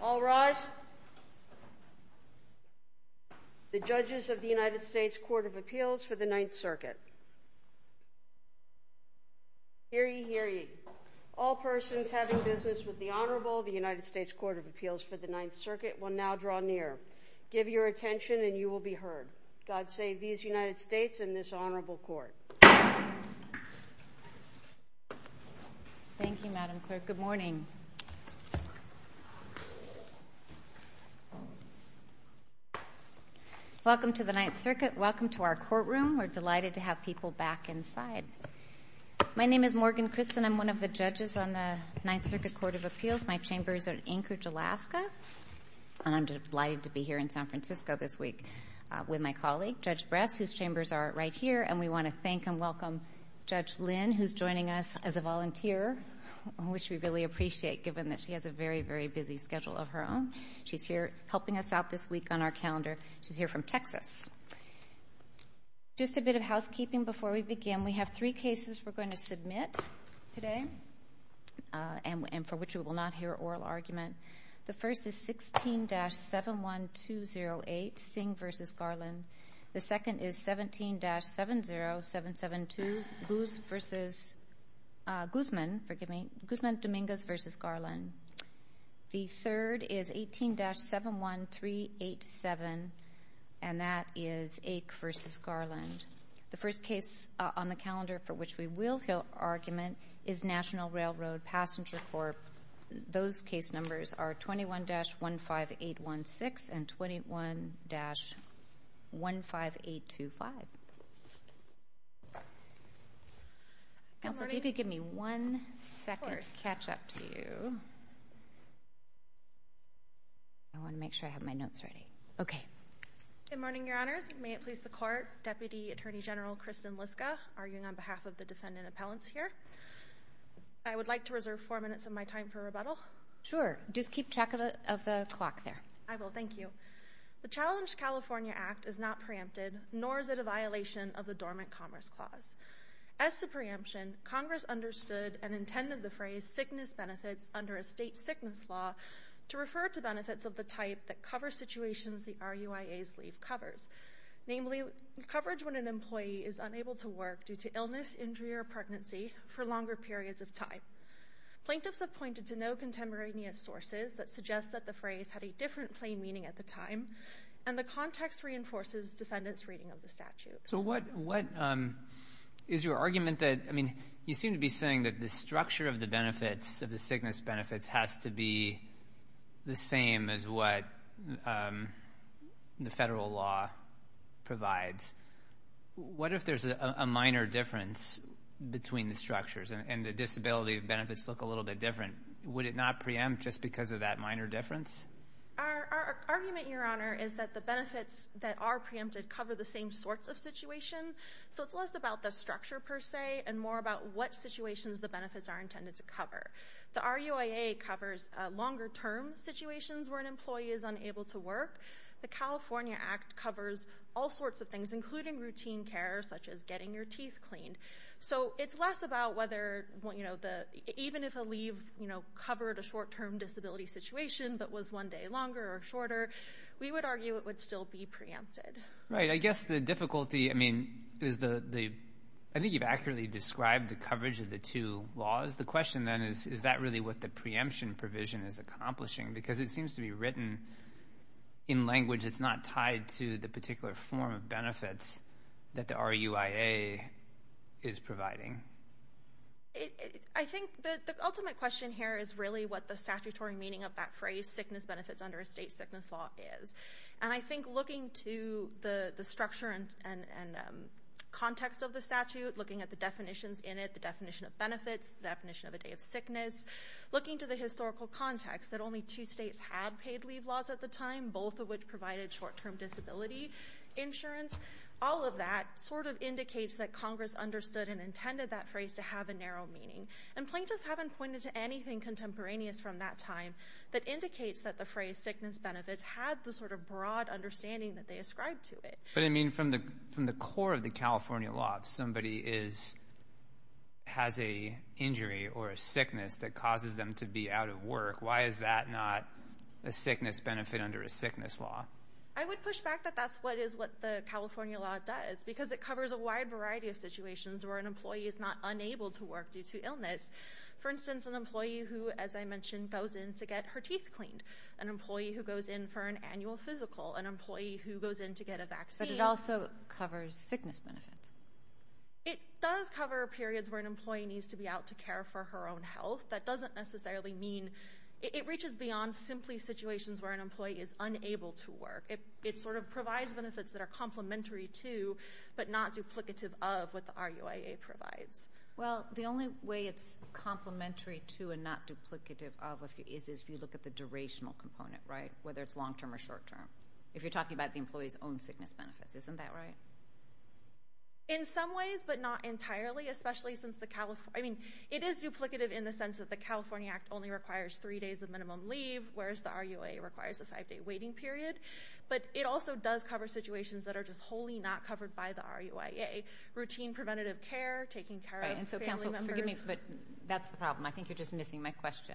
All rise. The judges of the United States Court of Appeals for the Ninth Circuit. Hear ye, hear ye. All persons having business with the Honorable of the United States Court of Appeals for the Ninth Circuit will now draw near. Give your attention and you will be heard. God save these United States and this Honorable Court. Thank you, Madam Clerk. Good morning. Welcome to the Ninth Circuit. Welcome to our courtroom. We're delighted to have people back inside. My name is Morgan Christen. I'm one of the judges on the Ninth Circuit Court of Appeals. My chambers are in Anchorage, Alaska. And I'm delighted to be here in San Francisco this week with my colleague, Judge Bress, whose chambers are right here. And we want to thank and welcome Judge Lynn, who's joining us as a volunteer, which we really appreciate, given that she has a very, very busy schedule of her own. She's here helping us out this week on our calendar. She's here from Texas. Just a bit of housekeeping before we begin. We have three cases we're going to submit today and for which we will not hear oral argument. The first is 16-71208, Singh v. Garland. The second is 17-70772, Guzman-Dominguez v. Garland. The third is 18-71387, and that is Ake v. Garland. The first case on the calendar for which we will hear argument is National Railroad Passenger Corp. Those case numbers are 21-15816 and 21-15825. Counsel, if you could give me one second to catch up to you. I want to make sure I have my notes ready. Okay. Good morning, Your Honors. May it please the Court. Deputy Attorney General Kristen Liska arguing on behalf of the defendant appellants here. I would like to reserve four minutes of my time for rebuttal. Sure. Just keep track of the clock there. I will. Thank you. The Challenge California Act is not preempted, nor is it a violation of the Dormant Commerce Clause. As to preemption, Congress understood and intended the phrase sickness benefits under a state sickness law to refer to benefits of the type that cover situations the RUIA's leave covers, namely coverage when an employee is unable to work due to illness, injury, or pregnancy for longer periods of time. Plaintiffs have pointed to no contemporaneous sources that suggest that the phrase had a different plain meaning at the time, and the context reinforces defendants' reading of the statute. So what is your argument? I mean, you seem to be saying that the structure of the benefits, of the sickness benefits, has to be the same as what the federal law provides. What if there's a minor difference between the structures and the disability benefits look a little bit different? Would it not preempt just because of that minor difference? Our argument, Your Honor, is that the benefits that are preempted cover the same sorts of situations, so it's less about the structure, per se, and more about what situations the benefits are intended to cover. The RUIA covers longer-term situations where an employee is unable to work. The California Act covers all sorts of things, including routine care, such as getting your teeth cleaned. So it's less about whether, even if a leave covered a short-term disability situation that was one day longer or shorter, we would argue it would still be preempted. Right. I guess the difficulty is the... I think you've accurately described the coverage of the two laws. The question, then, is, is that really what the preemption provision is accomplishing? Because it seems to be written in language that's not tied to the particular form of benefits that the RUIA is providing. I think the ultimate question here is really what the statutory meaning of that phrase, sickness benefits under a state sickness law, is. And I think looking to the structure and context of the statute, looking at the definitions in it, the definition of benefits, the definition of a day of sickness, looking to the historical context that only two states had paid leave laws at the time, both of which provided short-term disability insurance, all of that sort of indicates that Congress understood and intended that phrase to have a narrow meaning. And plaintiffs haven't pointed to anything contemporaneous from that time that indicates that the phrase sickness benefits had the sort of broad understanding that they ascribed to it. But, I mean, from the core of the California law, if somebody has an injury or a sickness that causes them to be out of work, why is that not a sickness benefit under a sickness law? I would push back that that's what the California law does, because it covers a wide variety of situations where an employee is not unable to work due to illness. For instance, an employee who, as I mentioned, goes in to get her teeth cleaned. An employee who goes in for an annual physical. An employee who goes in to get a vaccine. But it also covers sickness benefits. It does cover periods where an employee needs to be out to care for her own health. That doesn't necessarily mean it reaches beyond simply situations where an employee is unable to work. It sort of provides benefits that are complementary to, but not duplicative of, what the RUIA provides. Well, the only way it's complementary to and not duplicative of is if you look at the durational component, right? Whether it's long-term or short-term. If you're talking about the employee's own sickness benefits. Isn't that right? In some ways, but not entirely. I mean, it is duplicative in the sense that the California Act only requires three days of minimum leave, whereas the RUIA requires a five-day waiting period. But it also does cover situations that are just wholly not covered by the RUIA. Routine preventative care, taking care of family members. And so, counsel, forgive me, but that's the problem. I think you're just missing my question.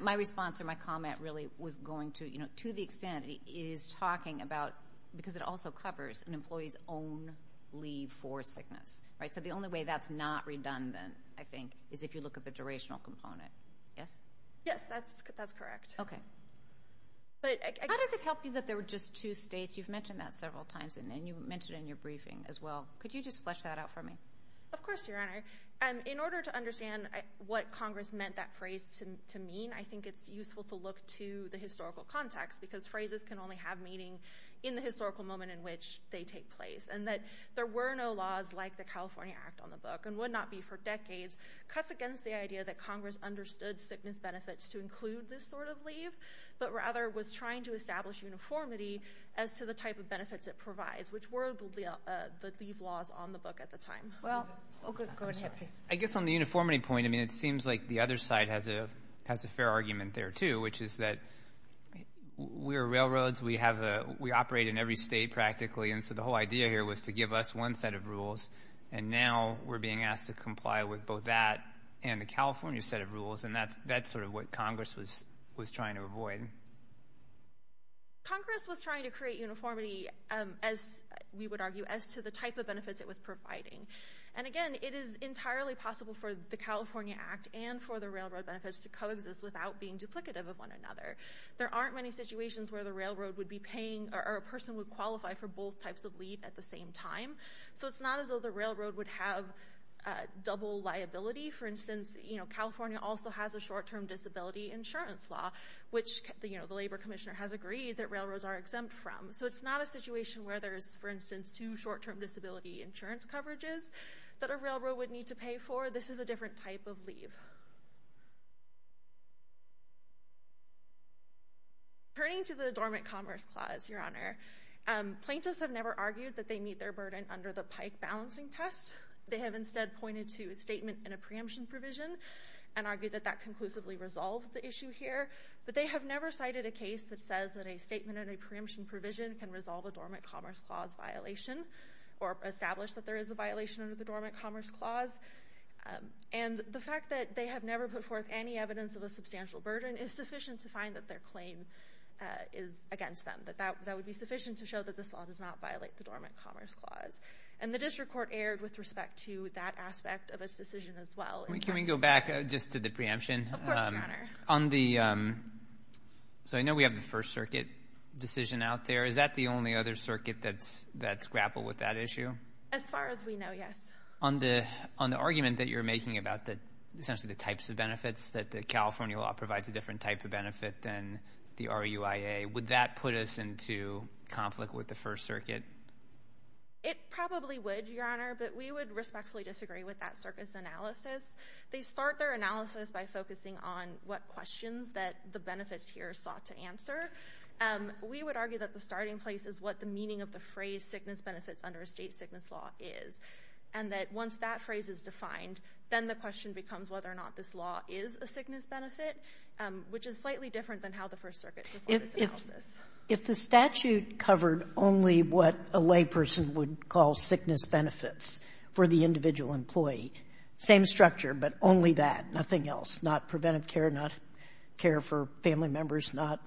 My response or my comment really was going to, you know, to the extent it is talking about, because it also covers an employee's own leave for sickness, right? So the only way that's not redundant, I think, is if you look at the durational component. Yes? Yes, that's correct. Okay. How does it help you that there were just two states? You've mentioned that several times, and you mentioned it in your briefing as well. Could you just flesh that out for me? Of course, Your Honor. In order to understand what Congress meant that phrase to mean, I think it's useful to look to the historical context, because phrases can only have meaning in the historical moment in which they take place. And that there were no laws like the California Act on the book, and would not be for decades, cuts against the idea that Congress understood sickness benefits to include this sort of leave, but rather was trying to establish uniformity as to the type of benefits it provides, which were the leave laws on the book at the time. Well, go ahead, please. I guess on the uniformity point, I mean, it seems like the other side has a fair argument there too, which is that we're railroads, we operate in every state practically, and so the whole idea here was to give us one set of rules, and now we're being asked to comply with both that and the California set of rules, and that's sort of what Congress was trying to avoid. Congress was trying to create uniformity, as we would argue, as to the type of benefits it was providing. And, again, it is entirely possible for the California Act and for the railroad benefits to coexist without being duplicative of one another. There aren't many situations where the railroad would be paying, or a person would qualify for both types of leave at the same time, so it's not as though the railroad would have double liability. For instance, California also has a short-term disability insurance law, which the labor commissioner has agreed that railroads are exempt from, so it's not a situation where there's, for instance, two short-term disability insurance coverages that a railroad would need to pay for. However, this is a different type of leave. Turning to the Dormant Commerce Clause, Your Honor, plaintiffs have never argued that they meet their burden under the Pike balancing test. They have instead pointed to a statement and a preemption provision and argued that that conclusively resolves the issue here, but they have never cited a case that says that a statement and a preemption provision can resolve a Dormant Commerce Clause violation or establish that there is a violation under the Dormant Commerce Clause. And the fact that they have never put forth any evidence of a substantial burden is sufficient to find that their claim is against them, that that would be sufficient to show that this law does not violate the Dormant Commerce Clause. And the district court erred with respect to that aspect of its decision as well. Can we go back just to the preemption? Of course, Your Honor. So I know we have the First Circuit decision out there. Is that the only other circuit that's grappled with that issue? As far as we know, yes. On the argument that you're making about essentially the types of benefits, that the California law provides a different type of benefit than the RUIA, would that put us into conflict with the First Circuit? It probably would, Your Honor, but we would respectfully disagree with that circuit's analysis. They start their analysis by focusing on what questions that the benefits here sought to answer. We would argue that the starting place is what the meaning of the phrase sickness benefits under a state sickness law is. And that once that phrase is defined, then the question becomes whether or not this law is a sickness benefit, which is slightly different than how the First Circuit's report is analysed. If the statute covered only what a layperson would call sickness benefits for the individual employee, same structure, but only that, nothing else, not preventive care, not care for family members, not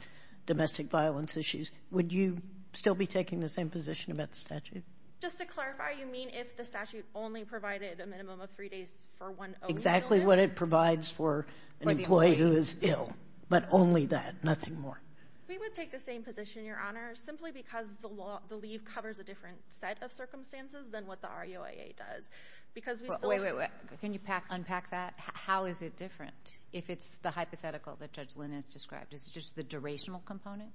domestic violence issues, would you still be taking the same position about the statute? Just to clarify, you mean if the statute only provided a minimum of three days for one only? Exactly what it provides for an employee who is ill, but only that, nothing more. We would take the same position, Your Honor, simply because the leave covers a different set of circumstances than what the RUIA does. Wait, wait, wait. Can you unpack that? How is it different if it's the hypothetical that Judge Lynn has described? Is it just the durational component?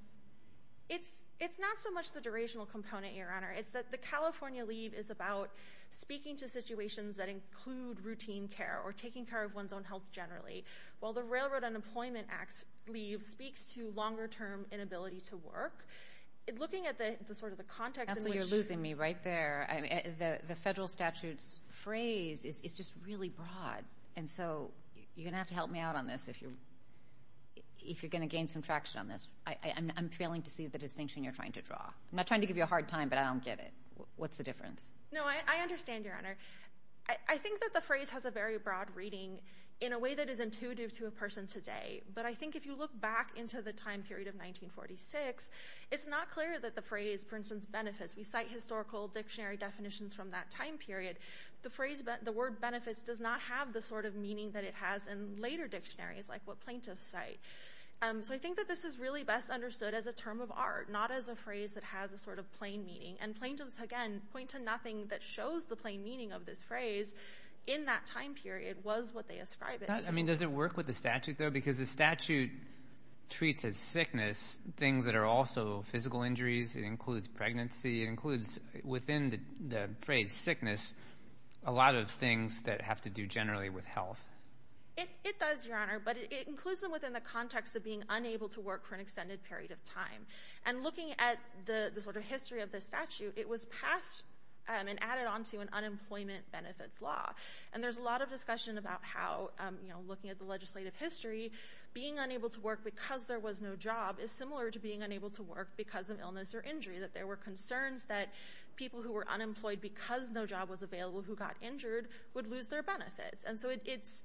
It's not so much the durational component, Your Honor. It's that the California leave is about speaking to situations that include routine care or taking care of one's own health generally, while the Railroad Unemployment Act's leave speaks to longer-term inability to work. Looking at sort of the context in which you— Absolutely, you're losing me right there. The federal statute's phrase is just really broad, and so you're going to have to help me out on this if you're going to gain some traction on this. I'm failing to see the distinction you're trying to draw. I'm not trying to give you a hard time, but I don't get it. What's the difference? No, I understand, Your Honor. I think that the phrase has a very broad reading in a way that is intuitive to a person today, but I think if you look back into the time period of 1946, it's not clear that the phrase, for instance, benefits. We cite historical dictionary definitions from that time period. The word benefits does not have the sort of meaning that it has in later dictionaries, like what plaintiffs cite. So I think that this is really best understood as a term of art, not as a phrase that has a sort of plain meaning. And plaintiffs, again, point to nothing that shows the plain meaning of this phrase. In that time period, it was what they ascribe it to. Does it work with the statute, though? Because the statute treats as sickness things that are also physical injuries. It includes pregnancy. It includes within the phrase sickness a lot of things that have to do generally with health. It does, Your Honor. But it includes them within the context of being unable to work for an extended period of time. And looking at the sort of history of this statute, it was passed and added on to an unemployment benefits law. And there's a lot of discussion about how, you know, looking at the legislative history, being unable to work because there was no job is similar to being unable to work because of illness or injury, that there were concerns that people who were unemployed because no job was available who got injured would lose their benefits. And so it's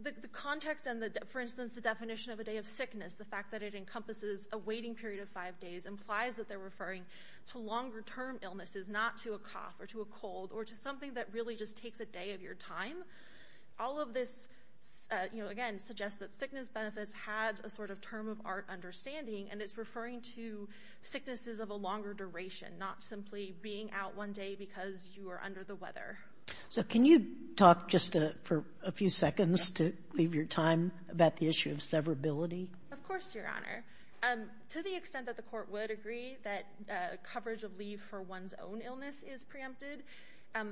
the context and, for instance, the definition of a day of sickness, the fact that it encompasses a waiting period of five days, implies that they're referring to longer-term illnesses, not to a cough or to a cold, or to something that really just takes a day of your time. All of this, you know, again, suggests that sickness benefits had a sort of term of art understanding, and it's referring to sicknesses of a longer duration, not simply being out one day because you are under the weather. So can you talk just for a few seconds to leave your time about the issue of severability? Of course, Your Honor. To the extent that the court would agree that coverage of leave for one's own illness is preempted,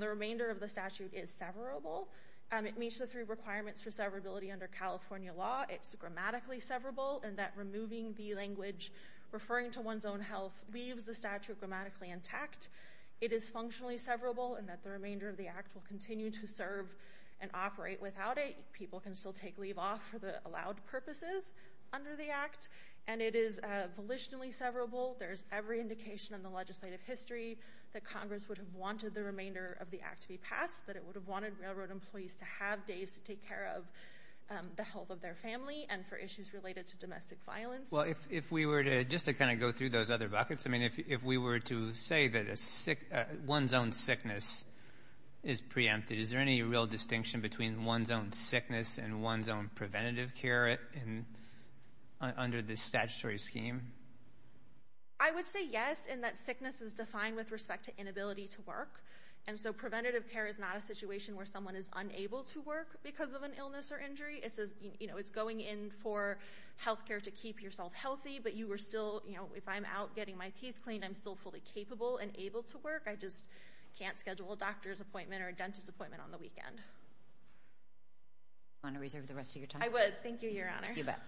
the remainder of the statute is severable. It meets the three requirements for severability under California law. It's grammatically severable in that removing the language referring to one's own health leaves the statute grammatically intact. It is functionally severable in that the remainder of the Act will continue to serve and operate without it. People can still take leave off for the allowed purposes under the Act. And it is volitionally severable. There is every indication in the legislative history that Congress would have wanted the remainder of the Act to be passed, that it would have wanted railroad employees to have days to take care of the health of their family and for issues related to domestic violence. Well, if we were to just to kind of go through those other buckets, I mean if we were to say that one's own sickness is preempted, is there any real distinction between one's own sickness and one's own preventative care under the statutory scheme? I would say yes in that sickness is defined with respect to inability to work, and so preventative care is not a situation where someone is unable to work because of an illness or injury. It's going in for health care to keep yourself healthy, but you are still, you know, if I'm out getting my teeth cleaned, I'm still fully capable and able to work. I just can't schedule a doctor's appointment or a dentist's appointment on the weekend. Do you want to reserve the rest of your time? I would. Thank you, Your Honor. You bet.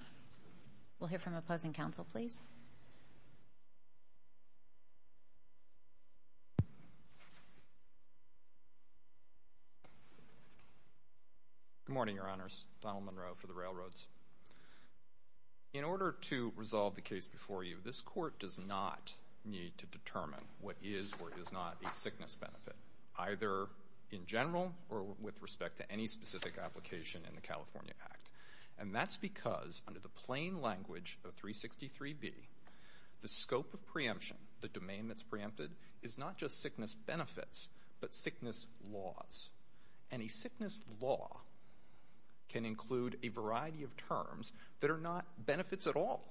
We'll hear from opposing counsel, please. Good morning, Your Honors. Donald Monroe for the Railroads. In order to resolve the case before you, this court does not need to determine what is or is not a sickness benefit, either in general or with respect to any specific application in the California Act, and that's because under the plain language of 363B, the scope of preemption, the domain that's preempted, is not just sickness benefits but sickness laws, and a sickness law can include a variety of terms that are not benefits at all.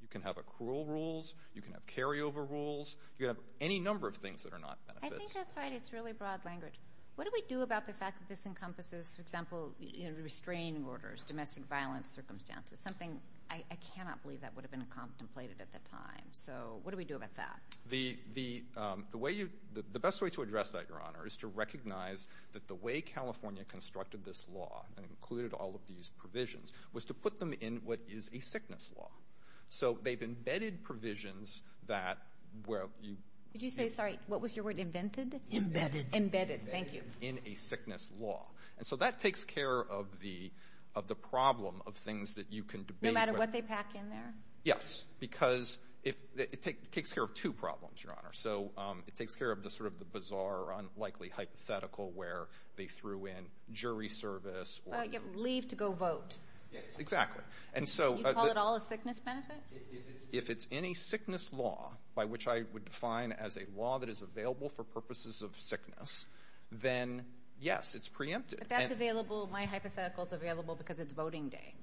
You can have accrual rules. You can have carryover rules. You can have any number of things that are not benefits. I think that's right. It's really broad language. What do we do about the fact that this encompasses, for example, restraining orders, domestic violence circumstances, something I cannot believe that would have been contemplated at the time. So what do we do about that? The best way to address that, Your Honor, is to recognize that the way California constructed this law and included all of these provisions was to put them in what is a sickness law. So they've embedded provisions that where you— Did you say, sorry, what was your word, invented? Embedded. Embedded, thank you. Embedded in a sickness law. And so that takes care of the problem of things that you can debate with— No matter what they pack in there? Yes, because it takes care of two problems, Your Honor. So it takes care of sort of the bizarre or unlikely hypothetical where they threw in jury service or— Leave to go vote. Yes, exactly. And so— You call it all a sickness benefit? If it's in a sickness law, by which I would define as a law that is available for purposes of sickness, then yes, it's preempted. But that's available, my hypothetical is available because it's voting day.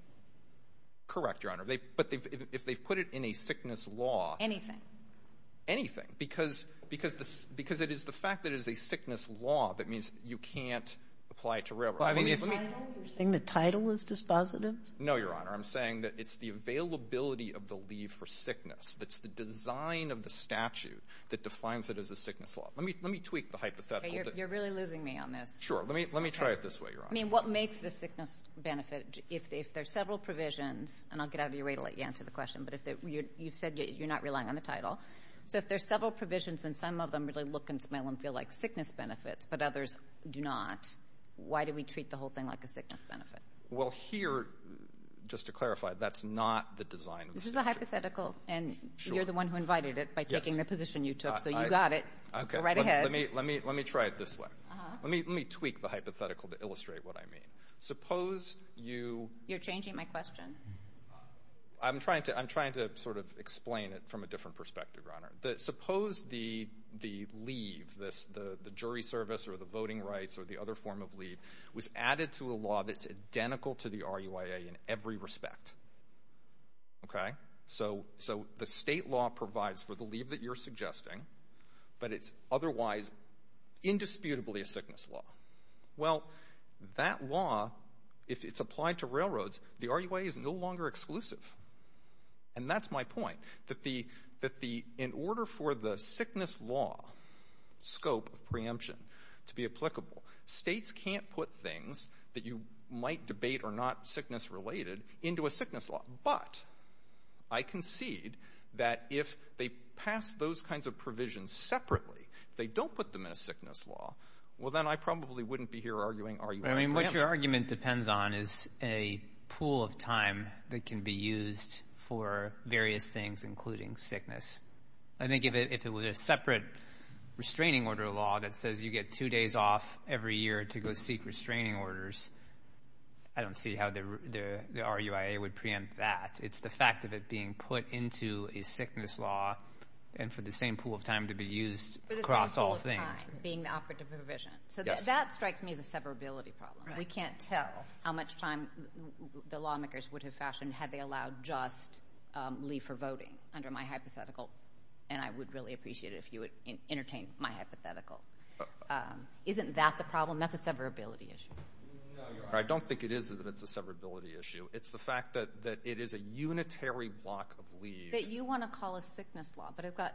Correct, Your Honor. But if they've put it in a sickness law— Anything. Anything, because it is the fact that it is a sickness law that means you can't apply it to railroad. Are you saying the title is dispositive? No, Your Honor. I'm saying that it's the availability of the leave for sickness. It's the design of the statute that defines it as a sickness law. Let me tweak the hypothetical. You're really losing me on this. Sure. Let me try it this way, Your Honor. I mean, what makes it a sickness benefit? If there are several provisions—and I'll get out of your way to let you answer the question, but you've said you're not relying on the title. So if there are several provisions and some of them really look and smell and feel like sickness benefits but others do not, why do we treat the whole thing like a sickness benefit? Well, here, just to clarify, that's not the design of the statute. This is a hypothetical, and you're the one who invited it by taking the position you took. So you got it. We're right ahead. Let me try it this way. Let me tweak the hypothetical to illustrate what I mean. Suppose you— You're changing my question. I'm trying to sort of explain it from a different perspective, Your Honor. Suppose the leave, the jury service or the voting rights or the other form of leave, was added to a law that's identical to the RUIA in every respect. So the state law provides for the leave that you're suggesting, but it's otherwise indisputably a sickness law. Well, that law, if it's applied to railroads, the RUIA is no longer exclusive. And that's my point, that in order for the sickness law scope of preemption to be applicable, states can't put things that you might debate are not sickness-related into a sickness law. But I concede that if they pass those kinds of provisions separately, if they don't put them in a sickness law, well then I probably wouldn't be here arguing RUIA preemption. What your argument depends on is a pool of time that can be used for various things including sickness. I think if it was a separate restraining order law that says you get two days off every year to go seek restraining orders, I don't see how the RUIA would preempt that. It's the fact of it being put into a sickness law and for the same pool of time to be used across all things. For the same pool of time being the operative provision. So that strikes me as a severability problem. We can't tell how much time the lawmakers would have fashioned had they allowed just leave for voting under my hypothetical. And I would really appreciate it if you would entertain my hypothetical. Isn't that the problem? That's a severability issue. No, Your Honor. I don't think it is that it's a severability issue. It's the fact that it is a unitary block of leave. That you want to call a sickness law. But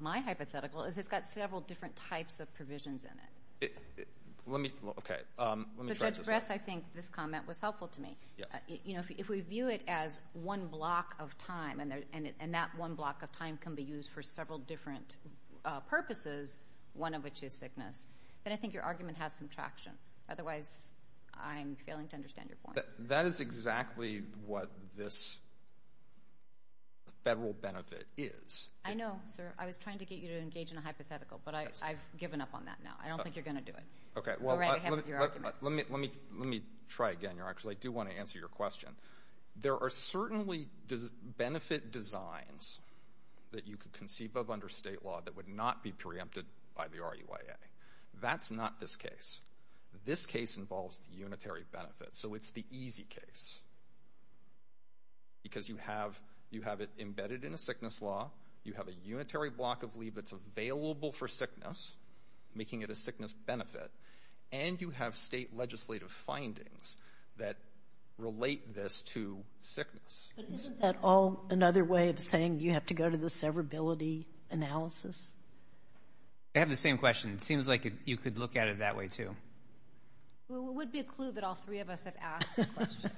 my hypothetical is it's got several different types of provisions in it. Let me try this one. Judge Bress, I think this comment was helpful to me. If we view it as one block of time and that one block of time can be used for several different purposes, one of which is sickness, then I think your argument has some traction. Otherwise, I'm failing to understand your point. That is exactly what this federal benefit is. I know, sir. I was trying to get you to engage in a hypothetical, but I've given up on that now. I don't think you're going to do it. Let me try again, Your Honor, because I do want to answer your question. There are certainly benefit designs that you could conceive of under state law that would not be preempted by the RUIA. That's not this case. This case involves the unitary benefit. So it's the easy case because you have it embedded in a sickness law. You have a unitary block of leave that's available for sickness, making it a sickness benefit. And you have state legislative findings that relate this to sickness. But isn't that all another way of saying you have to go to the severability analysis? I have the same question. It seems like you could look at it that way too. Well, it would be a clue that all three of us have asked the question.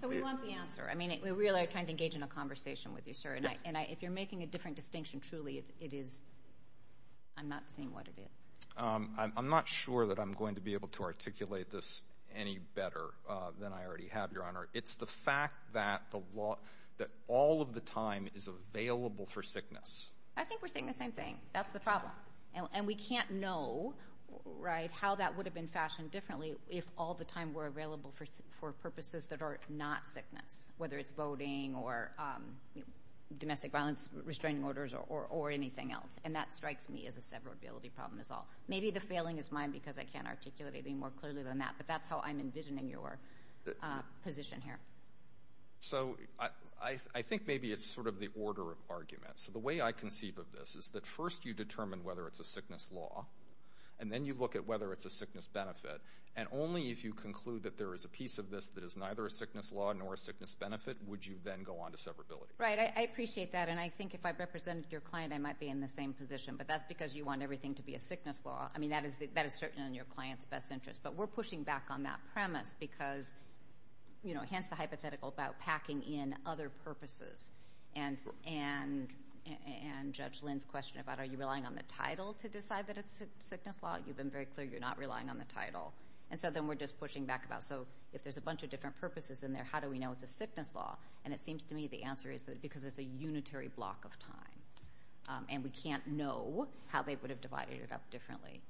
So we want the answer. I mean, we really are trying to engage in a conversation with you, sir. And if you're making a different distinction, truly it is, I'm not seeing what it is. I'm not sure that I'm going to be able to articulate this any better than I already have, Your Honor. It's the fact that all of the time is available for sickness. I think we're saying the same thing. That's the problem. And we can't know how that would have been fashioned differently if all the time were available for purposes that are not sickness, whether it's voting or domestic violence restraining orders or anything else. And that strikes me as a severability problem is all. Maybe the failing is mine because I can't articulate it any more clearly than that, but that's how I'm envisioning your position here. So I think maybe it's sort of the order of argument. So the way I conceive of this is that first you determine whether it's a sickness law, and then you look at whether it's a sickness benefit. And only if you conclude that there is a piece of this that is neither a sickness law nor a sickness benefit would you then go on to severability. Right. I appreciate that. And I think if I represented your client, I might be in the same position. But that's because you want everything to be a sickness law. I mean, that is certain in your client's best interest. But we're pushing back on that premise because, you know, hence the hypothetical about packing in other purposes. And Judge Lynn's question about are you relying on the title to decide that it's a sickness law, you've been very clear you're not relying on the title. And so then we're just pushing back about so if there's a bunch of different purposes in there, how do we know it's a sickness law? And it seems to me the answer is because it's a unitary block of time. And we can't know how they would have divided it up differently.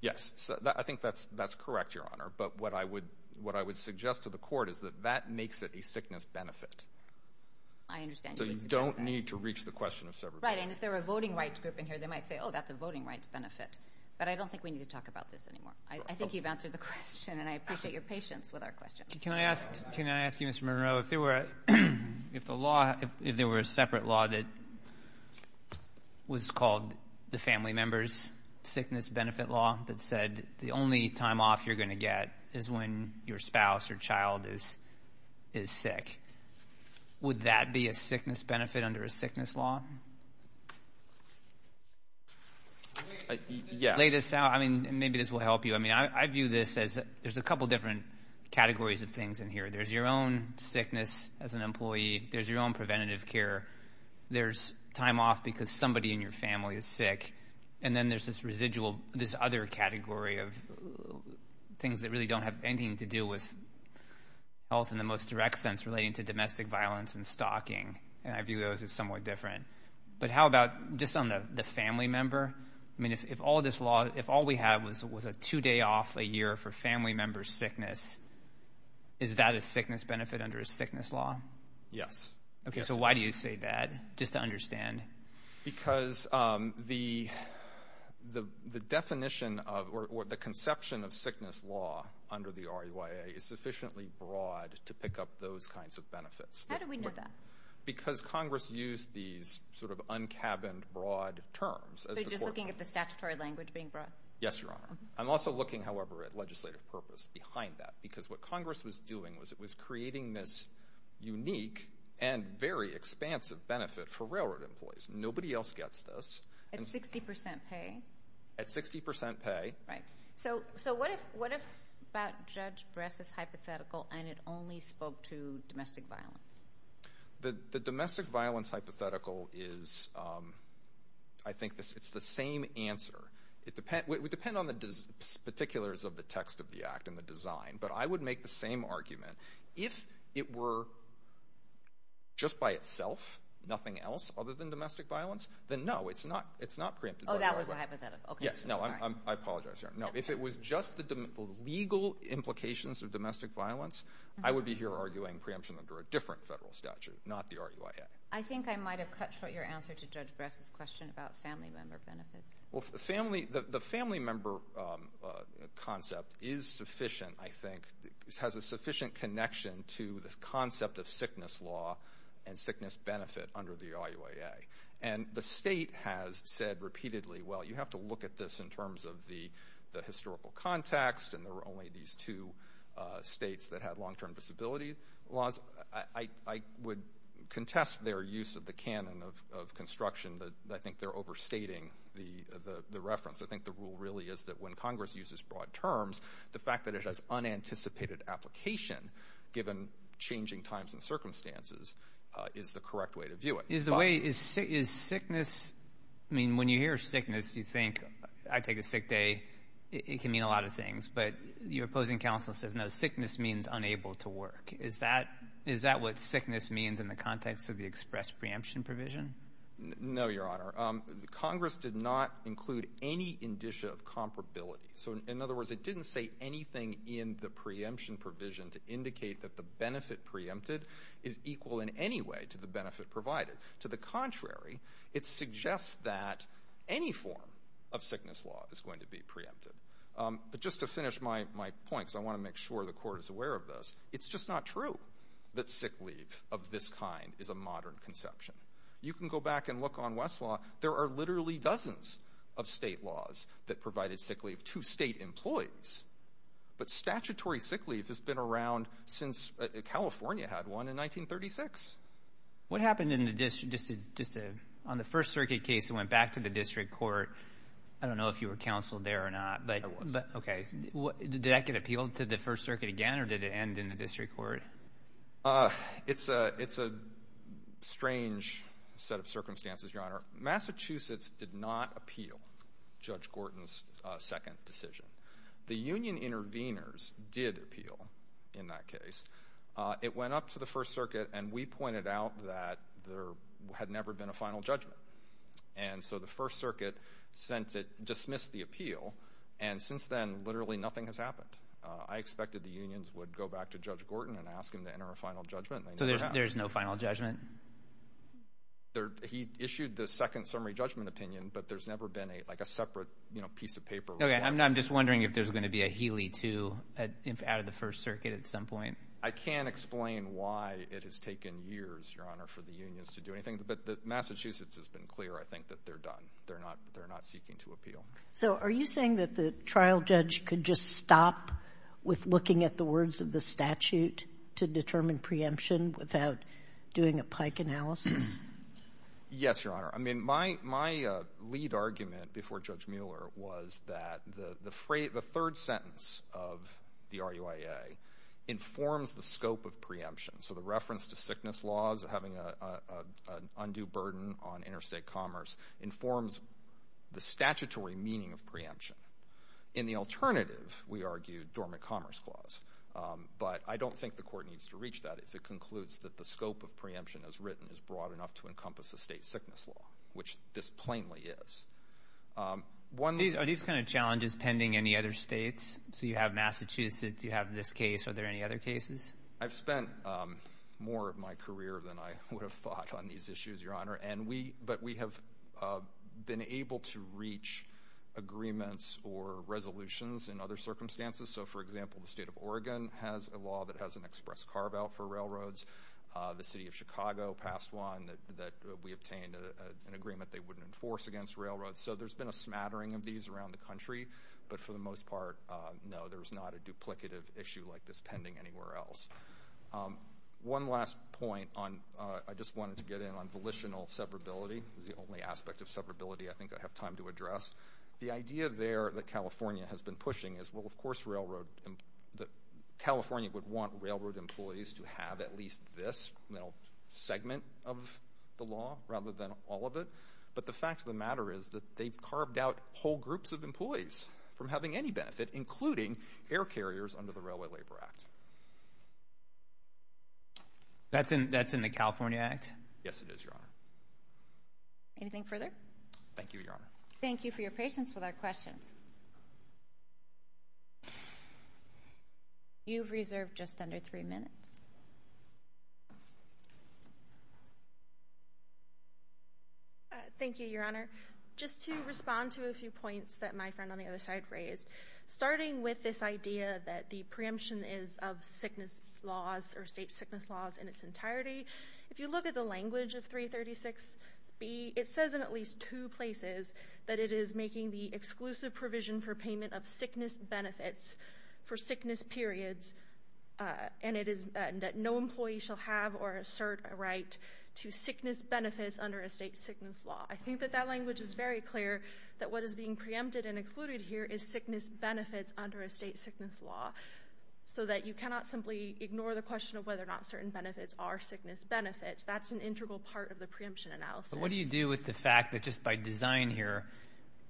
Yes, I think that's correct, Your Honor. But what I would suggest to the court is that that makes it a sickness benefit. I understand. So you don't need to reach the question of severability. Right. And if there were a voting rights group in here, they might say, oh, that's a voting rights benefit. But I don't think we need to talk about this anymore. I think you've answered the question, and I appreciate your patience with our questions. Can I ask you, Mr. Monroe, if there were a separate law that was called the family members sickness benefit law that said the only time off you're going to get is when your spouse or child is sick, would that be a sickness benefit under a sickness law? Lay this out. I mean, maybe this will help you. I mean, I view this as there's a couple different categories of things in here. There's your own sickness as an employee. There's your own preventative care. There's time off because somebody in your family is sick. And then there's this residual, this other category of things that really don't have anything to do with health in the most direct sense relating to domestic violence and stalking, and I view those as somewhat different. But how about just on the family member? I mean, if all this law, if all we have was a two-day off a year for family member sickness, is that a sickness benefit under a sickness law? Yes. Okay. So why do you say that, just to understand? Because the definition or the conception of sickness law under the RUIA is sufficiently broad to pick up those kinds of benefits. How do we know that? Because Congress used these sort of un-cabined, broad terms. So you're just looking at the statutory language being broad? Yes, Your Honor. I'm also looking, however, at legislative purpose behind that At 60% pay? At 60% pay. Right. So what about Judge Bress's hypothetical, and it only spoke to domestic violence? The domestic violence hypothetical is, I think it's the same answer. It would depend on the particulars of the text of the act and the design, but I would make the same argument. If it were just by itself, nothing else other than domestic violence, then no, it's not preempted by the RUIA. Oh, that was a hypothetical. Yes. No, I apologize, Your Honor. No, if it was just the legal implications of domestic violence, I would be here arguing preemption under a different federal statute, not the RUIA. I think I might have cut short your answer to Judge Bress's question about family member benefits. Well, the family member concept is sufficient, I think. It has a sufficient connection to the concept of sickness law and sickness benefit under the RUIA. And the state has said repeatedly, well, you have to look at this in terms of the historical context, and there were only these two states that had long-term disability laws. Well, I would contest their use of the canon of construction. I think they're overstating the reference. I think the rule really is that when Congress uses broad terms, the fact that it has unanticipated application, given changing times and circumstances, is the correct way to view it. Is the way – is sickness – I mean, when you hear sickness, you think I take a sick day. It can mean a lot of things. But your opposing counsel says, no, sickness means unable to work. Is that what sickness means in the context of the express preemption provision? No, Your Honor. Congress did not include any indicia of comparability. So, in other words, it didn't say anything in the preemption provision to indicate that the benefit preempted is equal in any way to the benefit provided. To the contrary, it suggests that any form of sickness law is going to be preempted. But just to finish my point, because I want to make sure the court is aware of this, it's just not true that sick leave of this kind is a modern conception. You can go back and look on Westlaw. There are literally dozens of state laws that provided sick leave to state employees. But statutory sick leave has been around since California had one in 1936. What happened in the – just on the First Circuit case, it went back to the district court. I don't know if you were counsel there or not. I was. Okay. Did that get appealed to the First Circuit again, or did it end in the district court? It's a strange set of circumstances, Your Honor. Massachusetts did not appeal Judge Gorton's second decision. The union intervenors did appeal in that case. It went up to the First Circuit, and we pointed out that there had never been a final judgment. And so the First Circuit dismissed the appeal, and since then literally nothing has happened. I expected the unions would go back to Judge Gorton and ask him to enter a final judgment. So there's no final judgment? He issued the second summary judgment opinion, but there's never been a separate piece of paper. Okay. I'm just wondering if there's going to be a Healy II out of the First Circuit at some point. I can't explain why it has taken years, Your Honor, for the unions to do anything. But Massachusetts has been clear, I think, that they're done. They're not seeking to appeal. So are you saying that the trial judge could just stop with looking at the words of the statute to determine preemption without doing a Pike analysis? Yes, Your Honor. I mean, my lead argument before Judge Mueller was that the third sentence of the RUIA informs the scope of preemption. So the reference to sickness laws having an undue burden on interstate commerce informs the statutory meaning of preemption. In the alternative, we argue dormant commerce clause. But I don't think the court needs to reach that if it concludes that the scope of preemption as written is broad enough to encompass a state sickness law, which this plainly is. Are these kind of challenges pending any other states? So you have Massachusetts, you have this case. Are there any other cases? I've spent more of my career than I would have thought on these issues, Your Honor. But we have been able to reach agreements or resolutions in other circumstances. So, for example, the state of Oregon has a law that has an express carve-out for railroads. The city of Chicago passed one that we obtained an agreement they wouldn't enforce against railroads. So there's been a smattering of these around the country. But for the most part, no, there's not a duplicative issue like this pending anywhere else. One last point. I just wanted to get in on volitional severability. It's the only aspect of severability I think I have time to address. The idea there that California has been pushing is, well, of course, California would want railroad employees to have at least this segment of the law rather than all of it. But the fact of the matter is that they've carved out whole groups of employees from having any benefit, including air carriers under the Railway Labor Act. That's in the California Act? Yes, it is, Your Honor. Anything further? Thank you, Your Honor. Thank you for your patience with our questions. You've reserved just under three minutes. Thank you, Your Honor. Just to respond to a few points that my friend on the other side raised. Starting with this idea that the preemption is of sickness laws or state sickness laws in its entirety, if you look at the language of 336B, it says in at least two places that it is making the exclusive provision for payment of sickness benefits for sickness periods, and that no employee shall have or assert a right to sickness benefits under a state sickness law. I think that that language is very clear that what is being preempted and excluded here is sickness benefits under a state sickness law, so that you cannot simply ignore the question of whether or not certain benefits are sickness benefits. That's an integral part of the preemption analysis. What do you do with the fact that just by design here,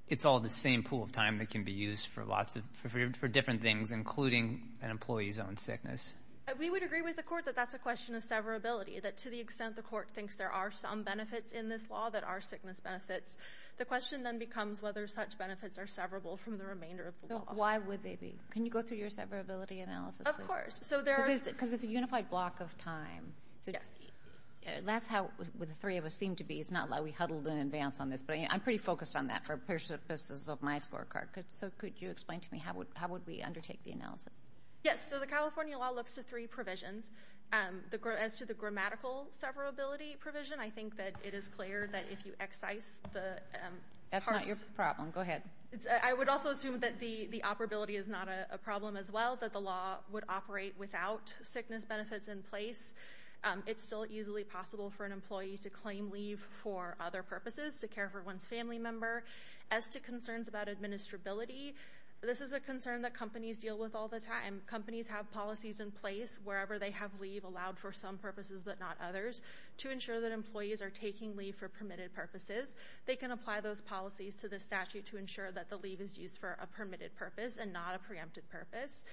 it's all the same pool of time that can be used for different things, including an employee's own sickness? We would agree with the court that that's a question of severability, that to the extent the court thinks there are some benefits in this law that are sickness benefits. The question then becomes whether such benefits are severable from the remainder of the law. Why would they be? Can you go through your severability analysis? Of course. Because it's a unified block of time. Yes. That's how the three of us seem to be. It's not like we huddled in advance on this, but I'm pretty focused on that for purposes of my scorecard. So could you explain to me how would we undertake the analysis? Yes. So the California law looks to three provisions. As to the grammatical severability provision, I think that it is clear that if you excise the parts— That's not your problem. Go ahead. I would also assume that the operability is not a problem as well, that the law would operate without sickness benefits in place. It's still easily possible for an employee to claim leave for other purposes, to care for one's family member. As to concerns about administrability, this is a concern that companies deal with all the time. Companies have policies in place wherever they have leave allowed for some purposes but not others to ensure that employees are taking leave for permitted purposes. They can apply those policies to the statute to ensure that the leave is used for a permitted purpose and not a preempted purpose.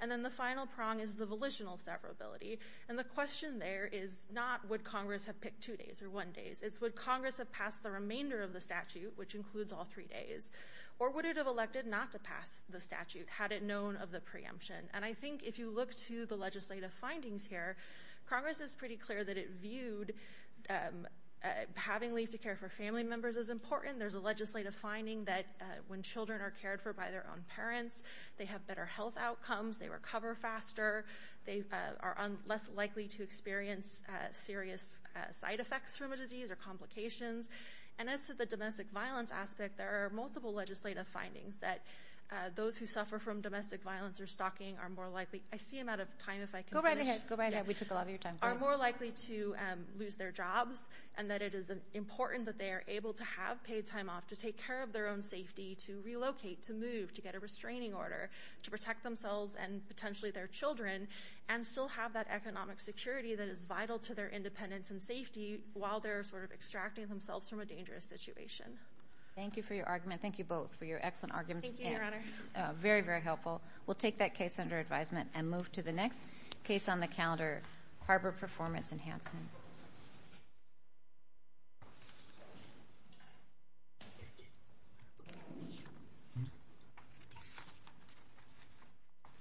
And then the final prong is the volitional severability. And the question there is not would Congress have picked two days or one day. It's would Congress have passed the remainder of the statute, which includes all three days, or would it have elected not to pass the statute had it known of the preemption? And I think if you look to the legislative findings here, Congress is pretty clear that it viewed having leave to care for family members as important. There's a legislative finding that when children are cared for by their own parents, they have better health outcomes, they recover faster, they are less likely to experience serious side effects from a disease or complications. And as to the domestic violence aspect, there are multiple legislative findings that those who suffer from domestic violence or stalking are more likely to lose their jobs and that it is important that they are able to have paid time off to take care of their own safety, to relocate, to move, to get a restraining order, to protect themselves and potentially their children and still have that economic security that is vital to their independence and safety while they're sort of extracting themselves from a dangerous situation. Thank you for your argument. Thank you both for your excellent arguments. Thank you, Your Honor. Very, very helpful. We'll take that case under advisement and move to the next case on the calendar, Harbor Performance Enhancement.